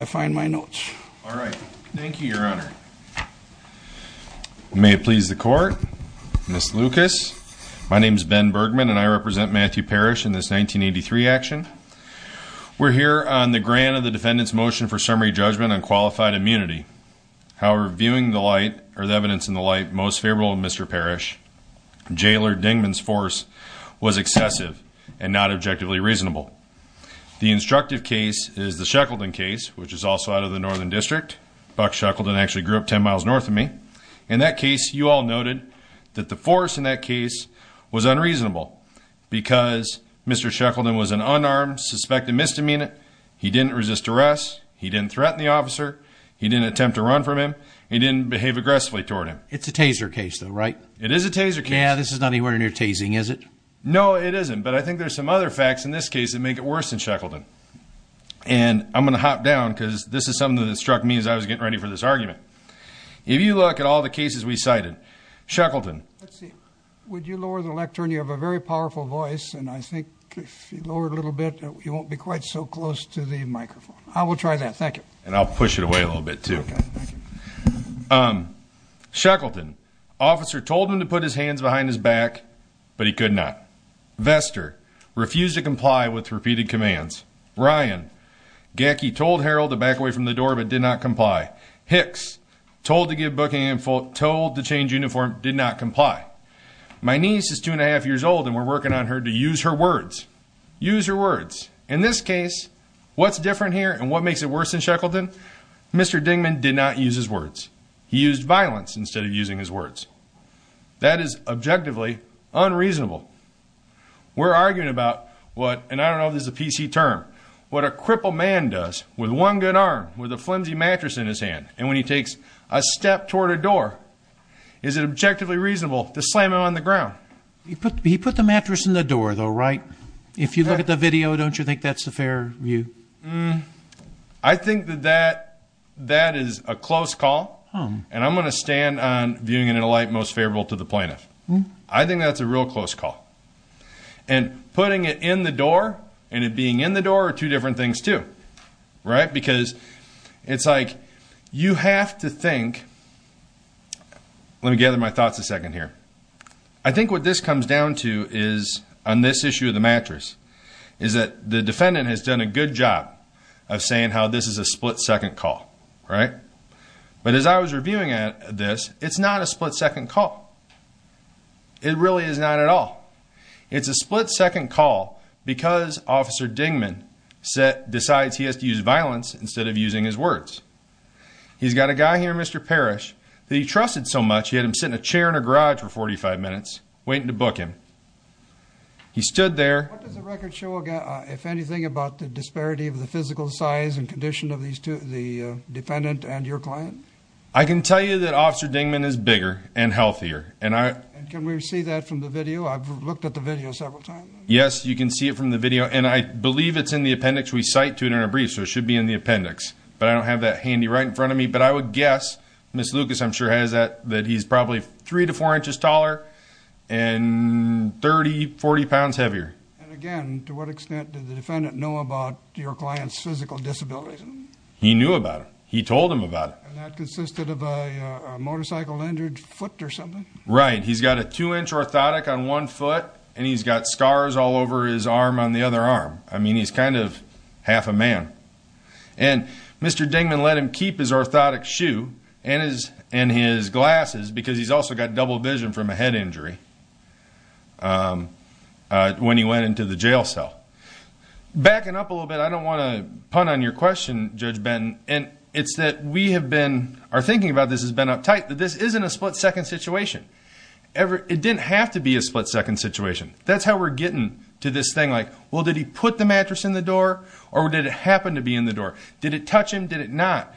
I find my notes. All right. Thank you, Your Honor. May it please the court. Miss Lucas. My name is Ben Bergman and I represent Matthew Parrish in this 1983 action. We're here on the grant of the defendant's motion for summary judgment on qualified immunity. However, viewing the light or the evidence in the light most favorable Mr. Parrish, Jailer Dingman's force was excessive and not objectively reasonable. The instructive case is the Shackleton case, which is also out of the Northern District. Buck Shackleton actually grew up 10 miles north of me. In that case, you all noted that the force in that case was unreasonable because Mr. Shackleton was an unarmed suspected misdemeanor. He didn't resist arrest. He didn't threaten the officer. He didn't attempt to run from him. He didn't behave aggressively toward him. It's a taser case though, right? It is a taser case. Yeah, this is not anywhere near tasing, is it? No, it isn't. But I think there's some other facts in this case that make it worse than Shackleton. And I'm going to hop down because this is something that struck me as I was getting ready for this argument. If you look at all the cases we cited, Shackleton. Would you lower the lectern? You have a very powerful voice. And I think if you lower it a little bit, you won't be quite so close to the microphone. I will try that. Thank you. And I'll push it away a little bit too. Shackleton. Officer told him to put his hands behind his back, but he could not. Vester. Refused to comply with repeated commands. Ryan. Gacky told Harold to back away from the door, but did not comply. Hicks. Told to give booking and told to change uniform, did not comply. My niece is two and a half years old and we're working on her to use her words. Use her words. In this case, what's different here and what makes it worse than Shackleton? Mr. Dingman did not use his words. He used violence instead of using his words. That is objectively unreasonable. We're arguing about what, and I don't know if this is a PC term, what a crippled man does with one good arm with a flimsy mattress in his hand. And when he takes a step toward a door, is it objectively reasonable to slam it on the ground? He put the mattress in the door though, right? If you look at the video, don't you think that's the fair view? Hmm. I think that that, that is a close call. And I'm going to stand on viewing it in a light, most favorable to the plaintiff. I think that's a real close call and putting it in the door and it being in the door are two different things too. Right? Because it's like, you have to think, let me gather my thoughts a second here. I think what this comes down to is on this issue of the mattress is that the defendant has done a good job of saying how this is a split second call, right? But as I was reviewing at this, it's not a split second call. It really is not at all. It's a split second call because officer Dingman set decides he has to use violence instead of using his words. He's got a guy here, Mr. Parrish that he trusted so much. He had him sit in a chair in a garage for 45 minutes waiting to book him. He stood there. What does the record show? Again, if anything about the disparity of the physical size and condition of these two, the defendant and your client, I can tell you that officer Dingman is bigger and healthier and I, can we see that from the video? I've looked at the video several times. Yes, you can see it from the video and I believe it's in the appendix. We cite to it in a brief, so it should be in the appendix, but I don't have that handy right in front of me. But I would guess Miss Lucas. I'm sure has that that he's probably three to four inches taller and 30 40 pounds heavier. And again, to what extent did the defendant know about your client's physical disabilities? He knew about him. He told him about it. And that consisted of a motorcycle injured foot or something, right? He's got a two inch orthotic on one foot and he's got scars all over his arm on the other arm. I mean, he's kind of half a man. And mr. Dingman, let him keep his orthotic shoe and his and his glasses because he's also got double vision from a head injury. When he went into the jail cell backing up a little bit. I don't want to punt on your question judge Ben and it's that we have been are thinking about. This has been uptight that this isn't a split-second situation ever. It didn't have to be a split-second situation. That's how we're getting to this thing. Well, did he put the mattress in the door or did it happen to be in the door? Did it touch him? Did it not?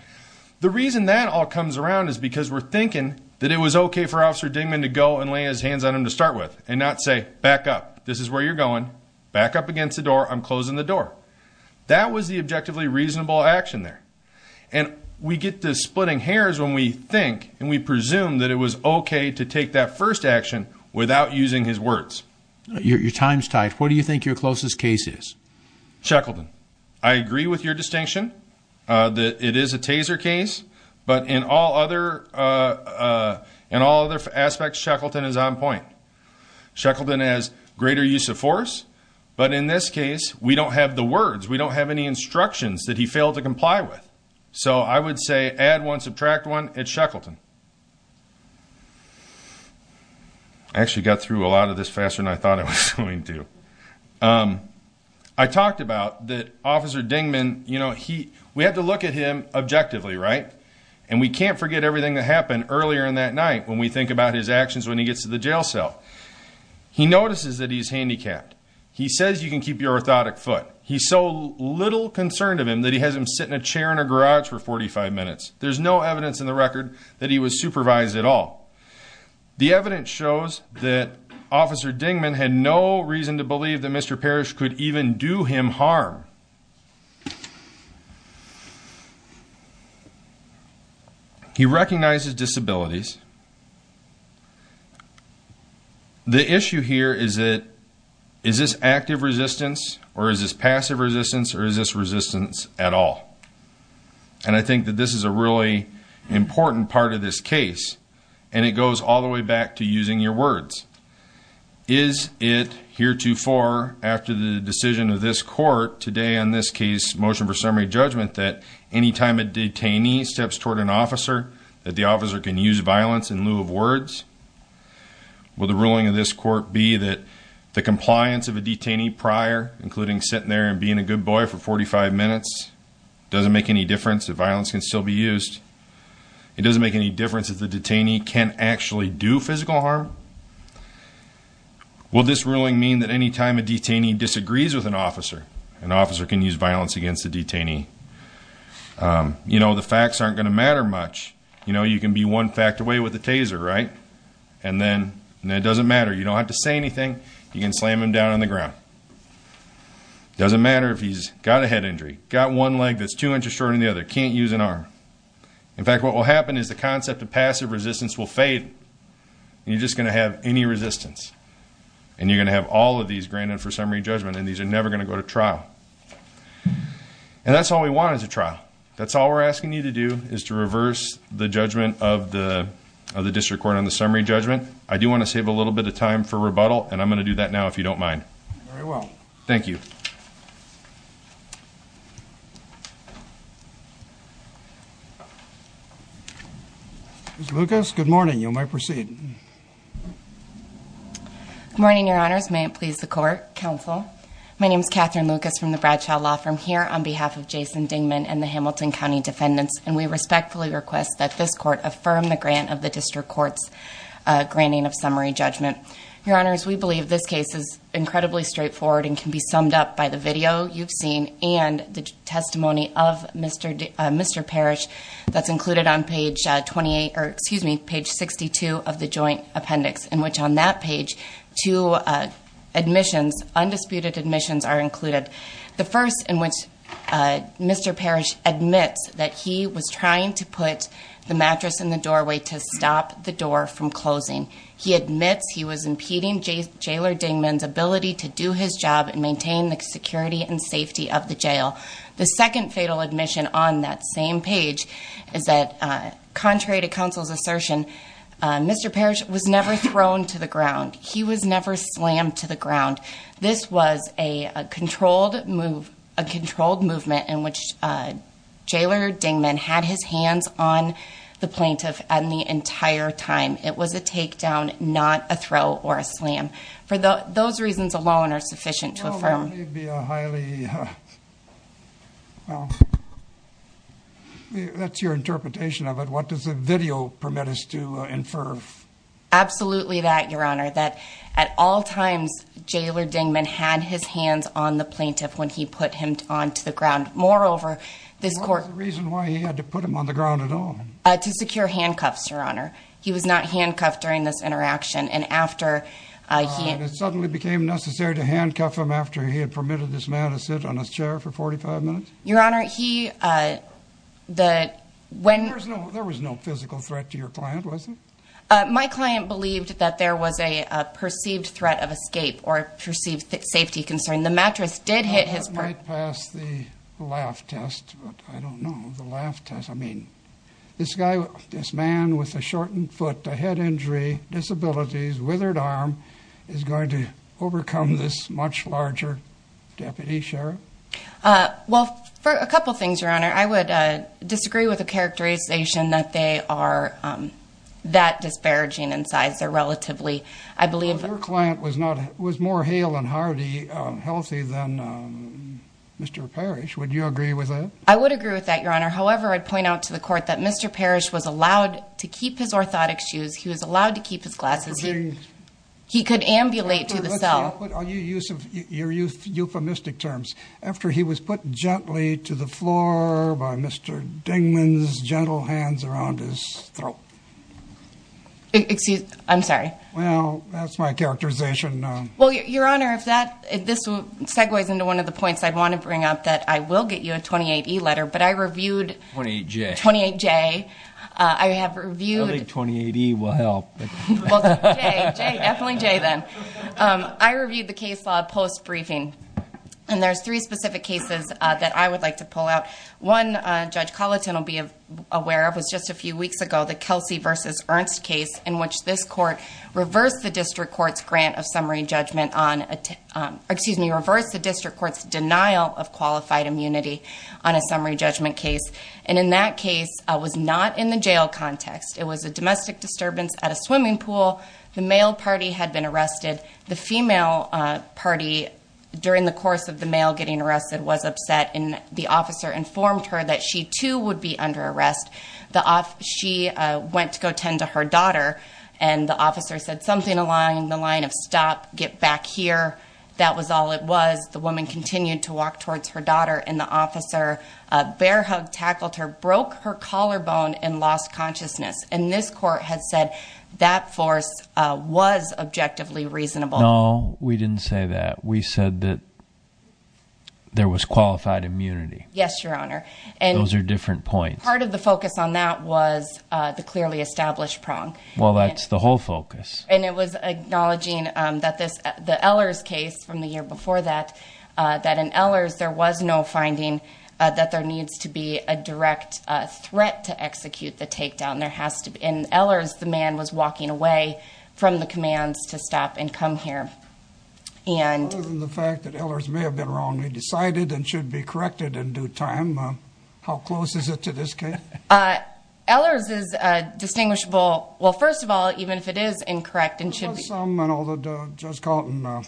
The reason that all comes around is because we're thinking that it was okay for officer Dingman to go and lay his hands on him to start with and not say back up. This is where you're going back up against the door. I'm closing the door. That was the objectively reasonable action there and we get the splitting hairs when we think and we presume that it was okay to take that first action without using his words. Your time's tight. What do you think your closest case is Shackleton? I agree with your distinction that it is a taser case, but in all other and all other aspects Shackleton is on point Shackleton has greater use of force. But in this case, we don't have the words. We don't have any instructions that he failed to comply with so I would say add one subtract one at Shackleton. Actually got through a lot of this faster than I thought it was going to. I talked about that officer Dingman, you know, he we have to look at him objectively right and we can't forget everything that happened earlier in that night when we think about his actions when he gets to the jail cell. He notices that he's handicapped. He says you can keep your orthotic foot. He's so little concerned of him that he has him sit in a chair in a garage for 45 minutes. There's no evidence in the record that he was supervised at all. The evidence shows that officer Dingman had no reason to believe that Mr. Parrish could even do him harm. He recognizes disabilities. The issue here is that is this active resistance or is this passive resistance or is this resistance at all? And I think that this is a really important part of this case and it goes all the way back to using your words. Is it heretofore after the decision of this court today on this case motion for summary judgment that anytime a detainee steps toward an officer that the officer can use violence in lieu of words? Will the ruling of this court be that the compliance of a detainee prior including sitting there and being a good boy for 45 minutes doesn't make any difference. The violence can still be used. It doesn't make any difference if the detainee can actually do physical harm. Will this ruling mean that anytime a detainee disagrees with an officer an officer can use violence against the detainee? You know, the facts aren't going to matter much, you know, you can be one fact away with the taser, right? And then it doesn't matter, you don't have to say anything, you can slam him down on the ground. Doesn't matter if he's got a head injury, got one leg that's two inches shorter than the other, can't use an arm. In fact, what will happen is the concept of passive resistance will fade and you're just going to have any resistance. And you're going to have all of these granted for summary judgment and these are never going to go to trial. That's all we're asking you to do is to reverse the judgment of the district court on the summary judgment. I do want to save a little bit of time for rebuttal and I'm going to do that now if you don't mind. Very well. Thank you. Ms. Lucas, good morning. You may proceed. May it please the court, counsel. My name is Catherine Lucas from the Bradshaw Law Firm here on behalf of Jason Dingman and the Hamilton County defendants. And we respectfully request that this court affirm the grant of the district court's granting of summary judgment. Your honors, we believe this case is incredibly straightforward and can be summed up by the video you've seen and the testimony of Mr. Parrish that's included on page 68 of the joint appendix. In which on that page, two admissions, undisputed admissions are included. The first in which Mr. Parrish admits that he was trying to put the mattress in the doorway to stop the door from closing. He admits he was impeding Jailer Dingman's ability to do his job and maintain the security and safety of the jail. The second fatal admission on that same page is that contrary to counsel's assertion, Mr. Parrish was never thrown to the ground. He was never slammed to the ground. This was a controlled movement in which Jailer Dingman had his hands on the plaintiff and the entire time. It was a take down, not a throw or a slam. For those reasons alone are sufficient to affirm. It may be a highly, well, that's your interpretation of it. What does the video permit us to infer? Absolutely that, your honor. That at all times, Jailer Dingman had his hands on the plaintiff when he put him onto the ground. Moreover, this court- What was the reason why he had to put him on the ground at all? To secure handcuffs, your honor. He was not handcuffed during this interaction and after he- And it suddenly became necessary to handcuff him after he had permitted this man to sit on his chair for 45 minutes? Your honor, he, the, when- There was no physical threat to your client, was there? My client believed that there was a perceived threat of escape or perceived safety concern. The mattress did hit his- That might pass the laugh test, but I don't know. The laugh test, I mean, this guy, this man with a shortened foot, a head injury, disabilities, withered arm, is going to overcome this much larger deputy sheriff? Well, for a couple things, your honor. I would disagree with the characterization that they are that disparaging in size. They're relatively, I believe- But your client was not, was more hale and hearty, healthy than Mr. Parrish. Would you agree with that? I would agree with that, your honor. However, I'd point out to the court that Mr. Parrish was allowed to keep his orthotic shoes. He was allowed to keep his glasses. He could ambulate to the cell. I'll put your use of your euphemistic terms. After he was put gently to the floor by Mr. Dingman's gentle hands around his throat. Excuse, I'm sorry. Well, that's my characterization. Well, your honor, if that, if this segues into one of the points I'd want to bring up, that I will get you a 28E letter, but I reviewed- 28J. 28J. I have reviewed- Well, J, J, definitely J then. I reviewed the case law post-briefing, and there's three specific cases that I would like to pull out. One, Judge Colleton will be aware of, was just a few weeks ago, the Kelsey versus Ernst case, in which this court reversed the district court's grant of summary judgment on, excuse me, reversed the district court's denial of qualified immunity on a summary judgment case. And in that case, it was not in the jail context. It was a domestic disturbance at a swimming pool. The male party had been arrested. The female party, during the course of the male getting arrested, was upset. And the officer informed her that she, too, would be under arrest. She went to go tend to her daughter. And the officer said something along the line of stop, get back here. That was all it was. The woman continued to walk towards her daughter. And the officer bear hugged, tackled her, broke her collarbone, and lost consciousness. And this court has said that force was objectively reasonable. No, we didn't say that. We said that there was qualified immunity. Yes, Your Honor. And- Those are different points. Part of the focus on that was the clearly established prong. Well, that's the whole focus. And it was acknowledging that the Ehlers case from the year before that, that in Ehlers, there was no finding that there needs to be a direct threat to execute the takedown. There has to be. In Ehlers, the man was walking away from the commands to stop and come here. And- Other than the fact that Ehlers may have been wrongly decided and should be corrected in due time, how close is it to this case? Ehlers is distinguishable. Well, first of all, even if it is incorrect and should be- Some, and although Judge Calton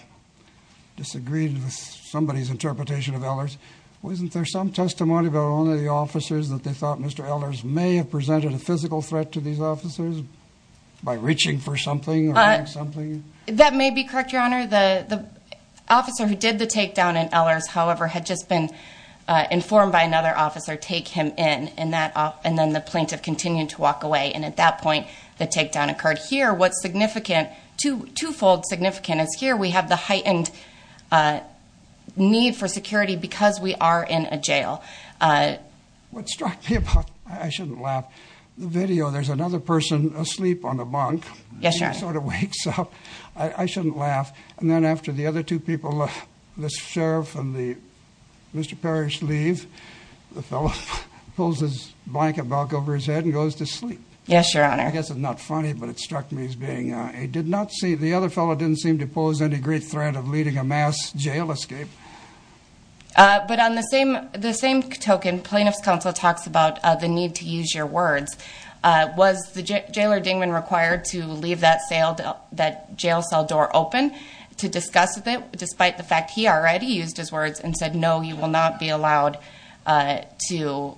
disagreed with somebody's interpretation of Ehlers, wasn't there some testimony about only the officers that they thought Mr. Ehlers may have presented a physical threat to these officers by reaching for something or doing something? That may be correct, Your Honor. The officer who did the takedown in Ehlers, however, had just been informed by another officer, take him in, and then the plaintiff continued to walk away. And at that point, the takedown occurred. Here, what's significant, twofold significant is here we have the heightened need for security because we are in a jail. What struck me about, I shouldn't laugh, the video, there's another person asleep on a bunk. Yes, Your Honor. Sort of wakes up, I shouldn't laugh. And then after the other two people, the sheriff and the Mr. Parrish leave, the fellow pulls his blanket back over his head and goes to sleep. Yes, Your Honor. I guess it's not funny, but it struck me as being, I did not see, the other fellow didn't seem to pose any great threat of leading a mass jail escape. But on the same token, plaintiff's counsel talks about the need to use your words. Was the jailer Dingman required to leave that jail cell door open to discuss it, despite the fact he already used his words and said, no, you will not be allowed to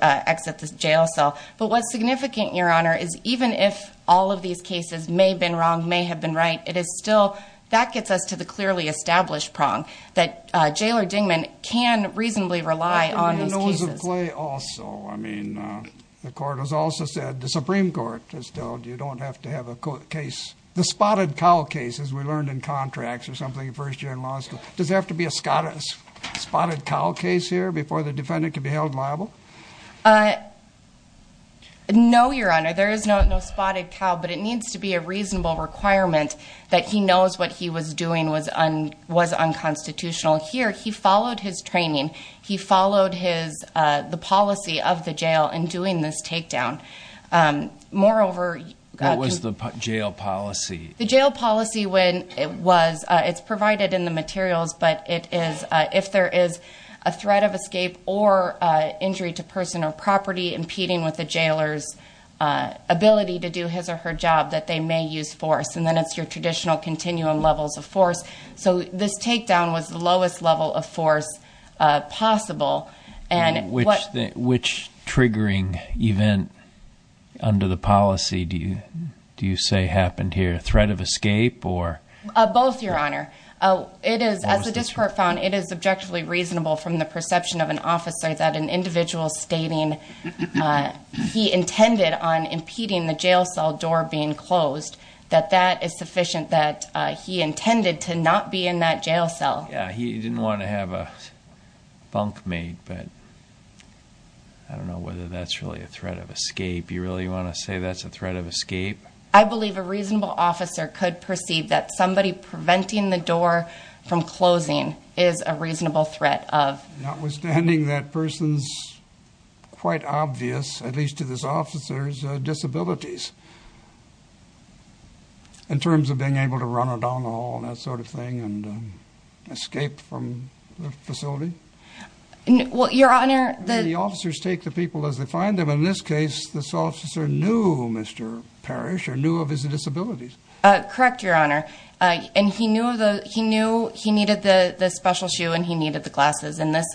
exit the jail cell. But what's significant, Your Honor, is even if all of these cases may have been wrong, may have been right, it is still, that gets us to the clearly established prong that Jailer Dingman can reasonably rely on these cases. I think we know as a play also, I mean, the court has also said, the Supreme Court has told you don't have to have a case, the spotted cow case as we learned in contracts or something in first year in law school. Does it have to be a spotted cow case here before the defendant can be held liable? No, Your Honor, there is no spotted cow, but it needs to be a reasonable requirement that he knows what he was doing was unconstitutional. Here, he followed his training, he followed the policy of the jail in doing this takedown. Moreover- What was the jail policy? The jail policy when it was, it's provided in the materials, but it is if there is a threat of escape or injury to person or property impeding with the jailer's ability to do his or her job, that they may use force. And then it's your traditional continuum levels of force. So this takedown was the lowest level of force possible. And what- Which triggering event under the policy do you say happened here? Threat of escape or- Both, Your Honor. It is, as the district found, it is objectively reasonable from the perception of an officer that an individual stating he intended on impeding the jail cell door being closed, that that is sufficient. That he intended to not be in that jail cell. Yeah, he didn't want to have a bunk made, but I don't know whether that's really a threat of escape. You really want to say that's a threat of escape? I believe a reasonable officer could perceive that somebody preventing the door from closing is a reasonable threat of- Notwithstanding that person's, quite obvious, at least to this officer's, disabilities. In terms of being able to run a down the hall, that sort of thing, and escape from the facility? Well, Your Honor, the- The officers take the people as they find them. In this case, this officer knew Mr. Parrish, or knew of his disabilities. Correct, Your Honor. And he knew he needed the special shoe and he needed the glasses. In this,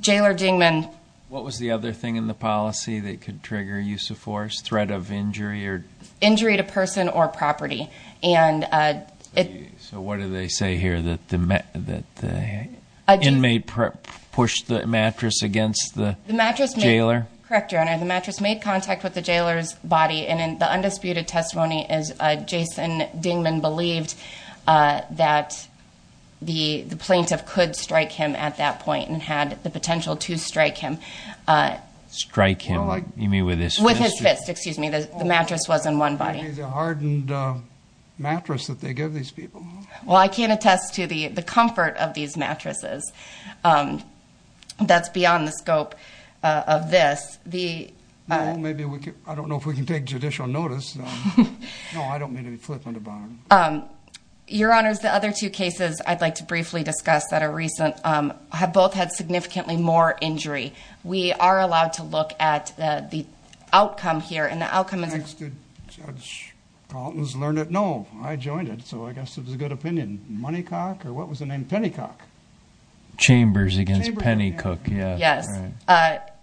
Jailor Dingman- What was the other thing in the policy that could trigger use of force? Threat of injury or- Injury to person or property. And it- So what do they say here? That the inmate pushed the mattress against the jailer? Correct, Your Honor. The mattress made contact with the jailer's body. And in the undisputed testimony, Jason Dingman believed that the plaintiff could strike him at that point and had the potential to strike him. Strike him, you mean with his fist? With his fist, excuse me. The mattress was in one body. Maybe the hardened mattress that they give these people. Well, I can't attest to the comfort of these mattresses. That's beyond the scope of this. The- No, maybe we could- I don't know if we can take judicial notice. No, I don't mean to be flippant about it. Your Honors, the other two cases I'd like to briefly discuss that are recent have both had significantly more injury. We are allowed to look at the outcome here. And the outcome is- Thanks to Judge Carlton's learned it. No, I joined it. So I guess it was a good opinion. Moneycock or what was the name? Pennycock. Chambers against Pennycock, yeah. Yes,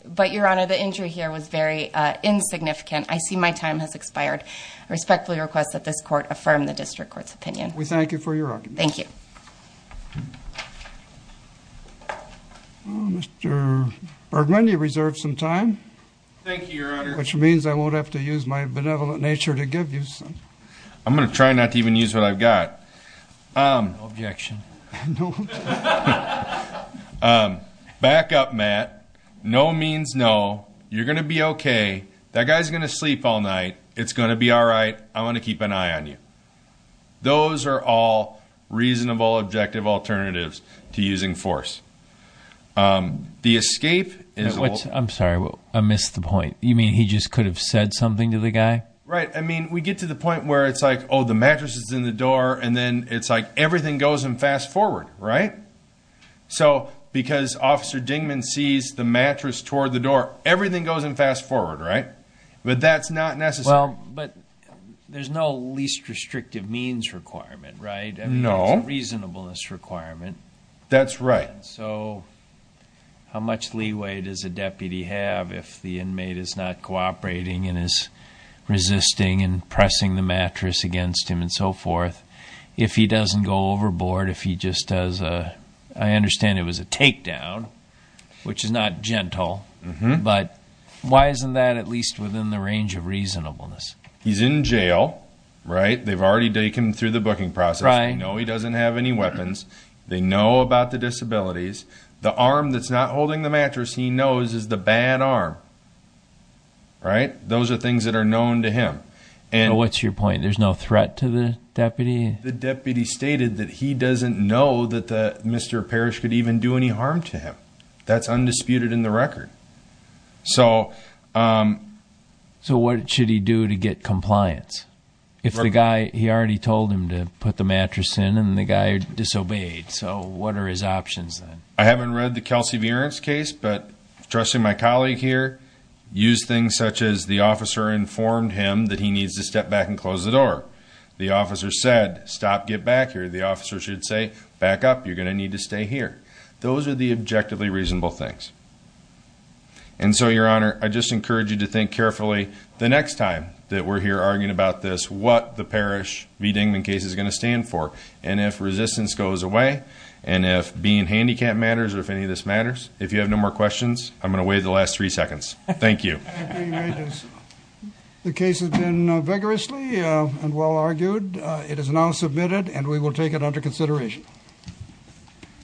but Your Honor, the injury here was very insignificant. I see my time has expired. I respectfully request that this court affirm the district court's opinion. We thank you for your argument. Thank you. Well, Mr. Bergman, you reserved some time. Thank you, Your Honor. Which means I won't have to use my benevolent nature to give you some. I'm going to try not to even use what I've got. No objection. Back up, Matt. No means no. You're going to be okay. That guy's going to sleep all night. It's going to be all right. I want to keep an eye on you. Those are all reasonable objective alternatives to using force. The escape is- I'm sorry, I missed the point. You mean he just could have said something to the guy? Right. I mean, we get to the point where it's like, oh, the mattress is in the door, and then it's like everything goes in fast forward, right? So because Officer Dingman sees the mattress toward the door, everything goes in fast forward, right? But that's not necessary. Well, but there's no least restrictive means requirement, right? No. There's a reasonableness requirement. That's right. So how much leeway does a deputy have if the inmate is not cooperating, and is resisting, and pressing the mattress against him, and so forth? If he doesn't go overboard, if he just does a- I understand it was a takedown, which is not gentle. But why isn't that at least within the range of reasonableness? He's in jail, right? They've already taken him through the booking process. Right. They know he doesn't have any weapons. They know about the disabilities. The arm that's not holding the mattress, he knows, is the bad arm, right? Those are things that are known to him. What's your point? There's no threat to the deputy? The deputy stated that he doesn't know that Mr. Parrish could even do any harm to him. That's undisputed in the record. So what should he do to get compliance? If the guy, he already told him to put the mattress in, and the guy disobeyed. So what are his options then? I haven't read the Kelsey Vierance case, but trust me, my colleague here used things such as the officer informed him that he needs to step back and close the door. The officer said, stop, get back here. The officer should say, back up, you're going to need to stay here. Those are the objectively reasonable things. And so, Your Honor, I just encourage you to think carefully the next time that we're here arguing about this, what the Parrish v. Dingman case is going to stand for. And if resistance goes away, and if being handicapped matters, or if any of this matters, if you have no more questions, I'm going to wait the last three seconds. Thank you. The case has been vigorously and well argued. It is now submitted and we will take it under consideration.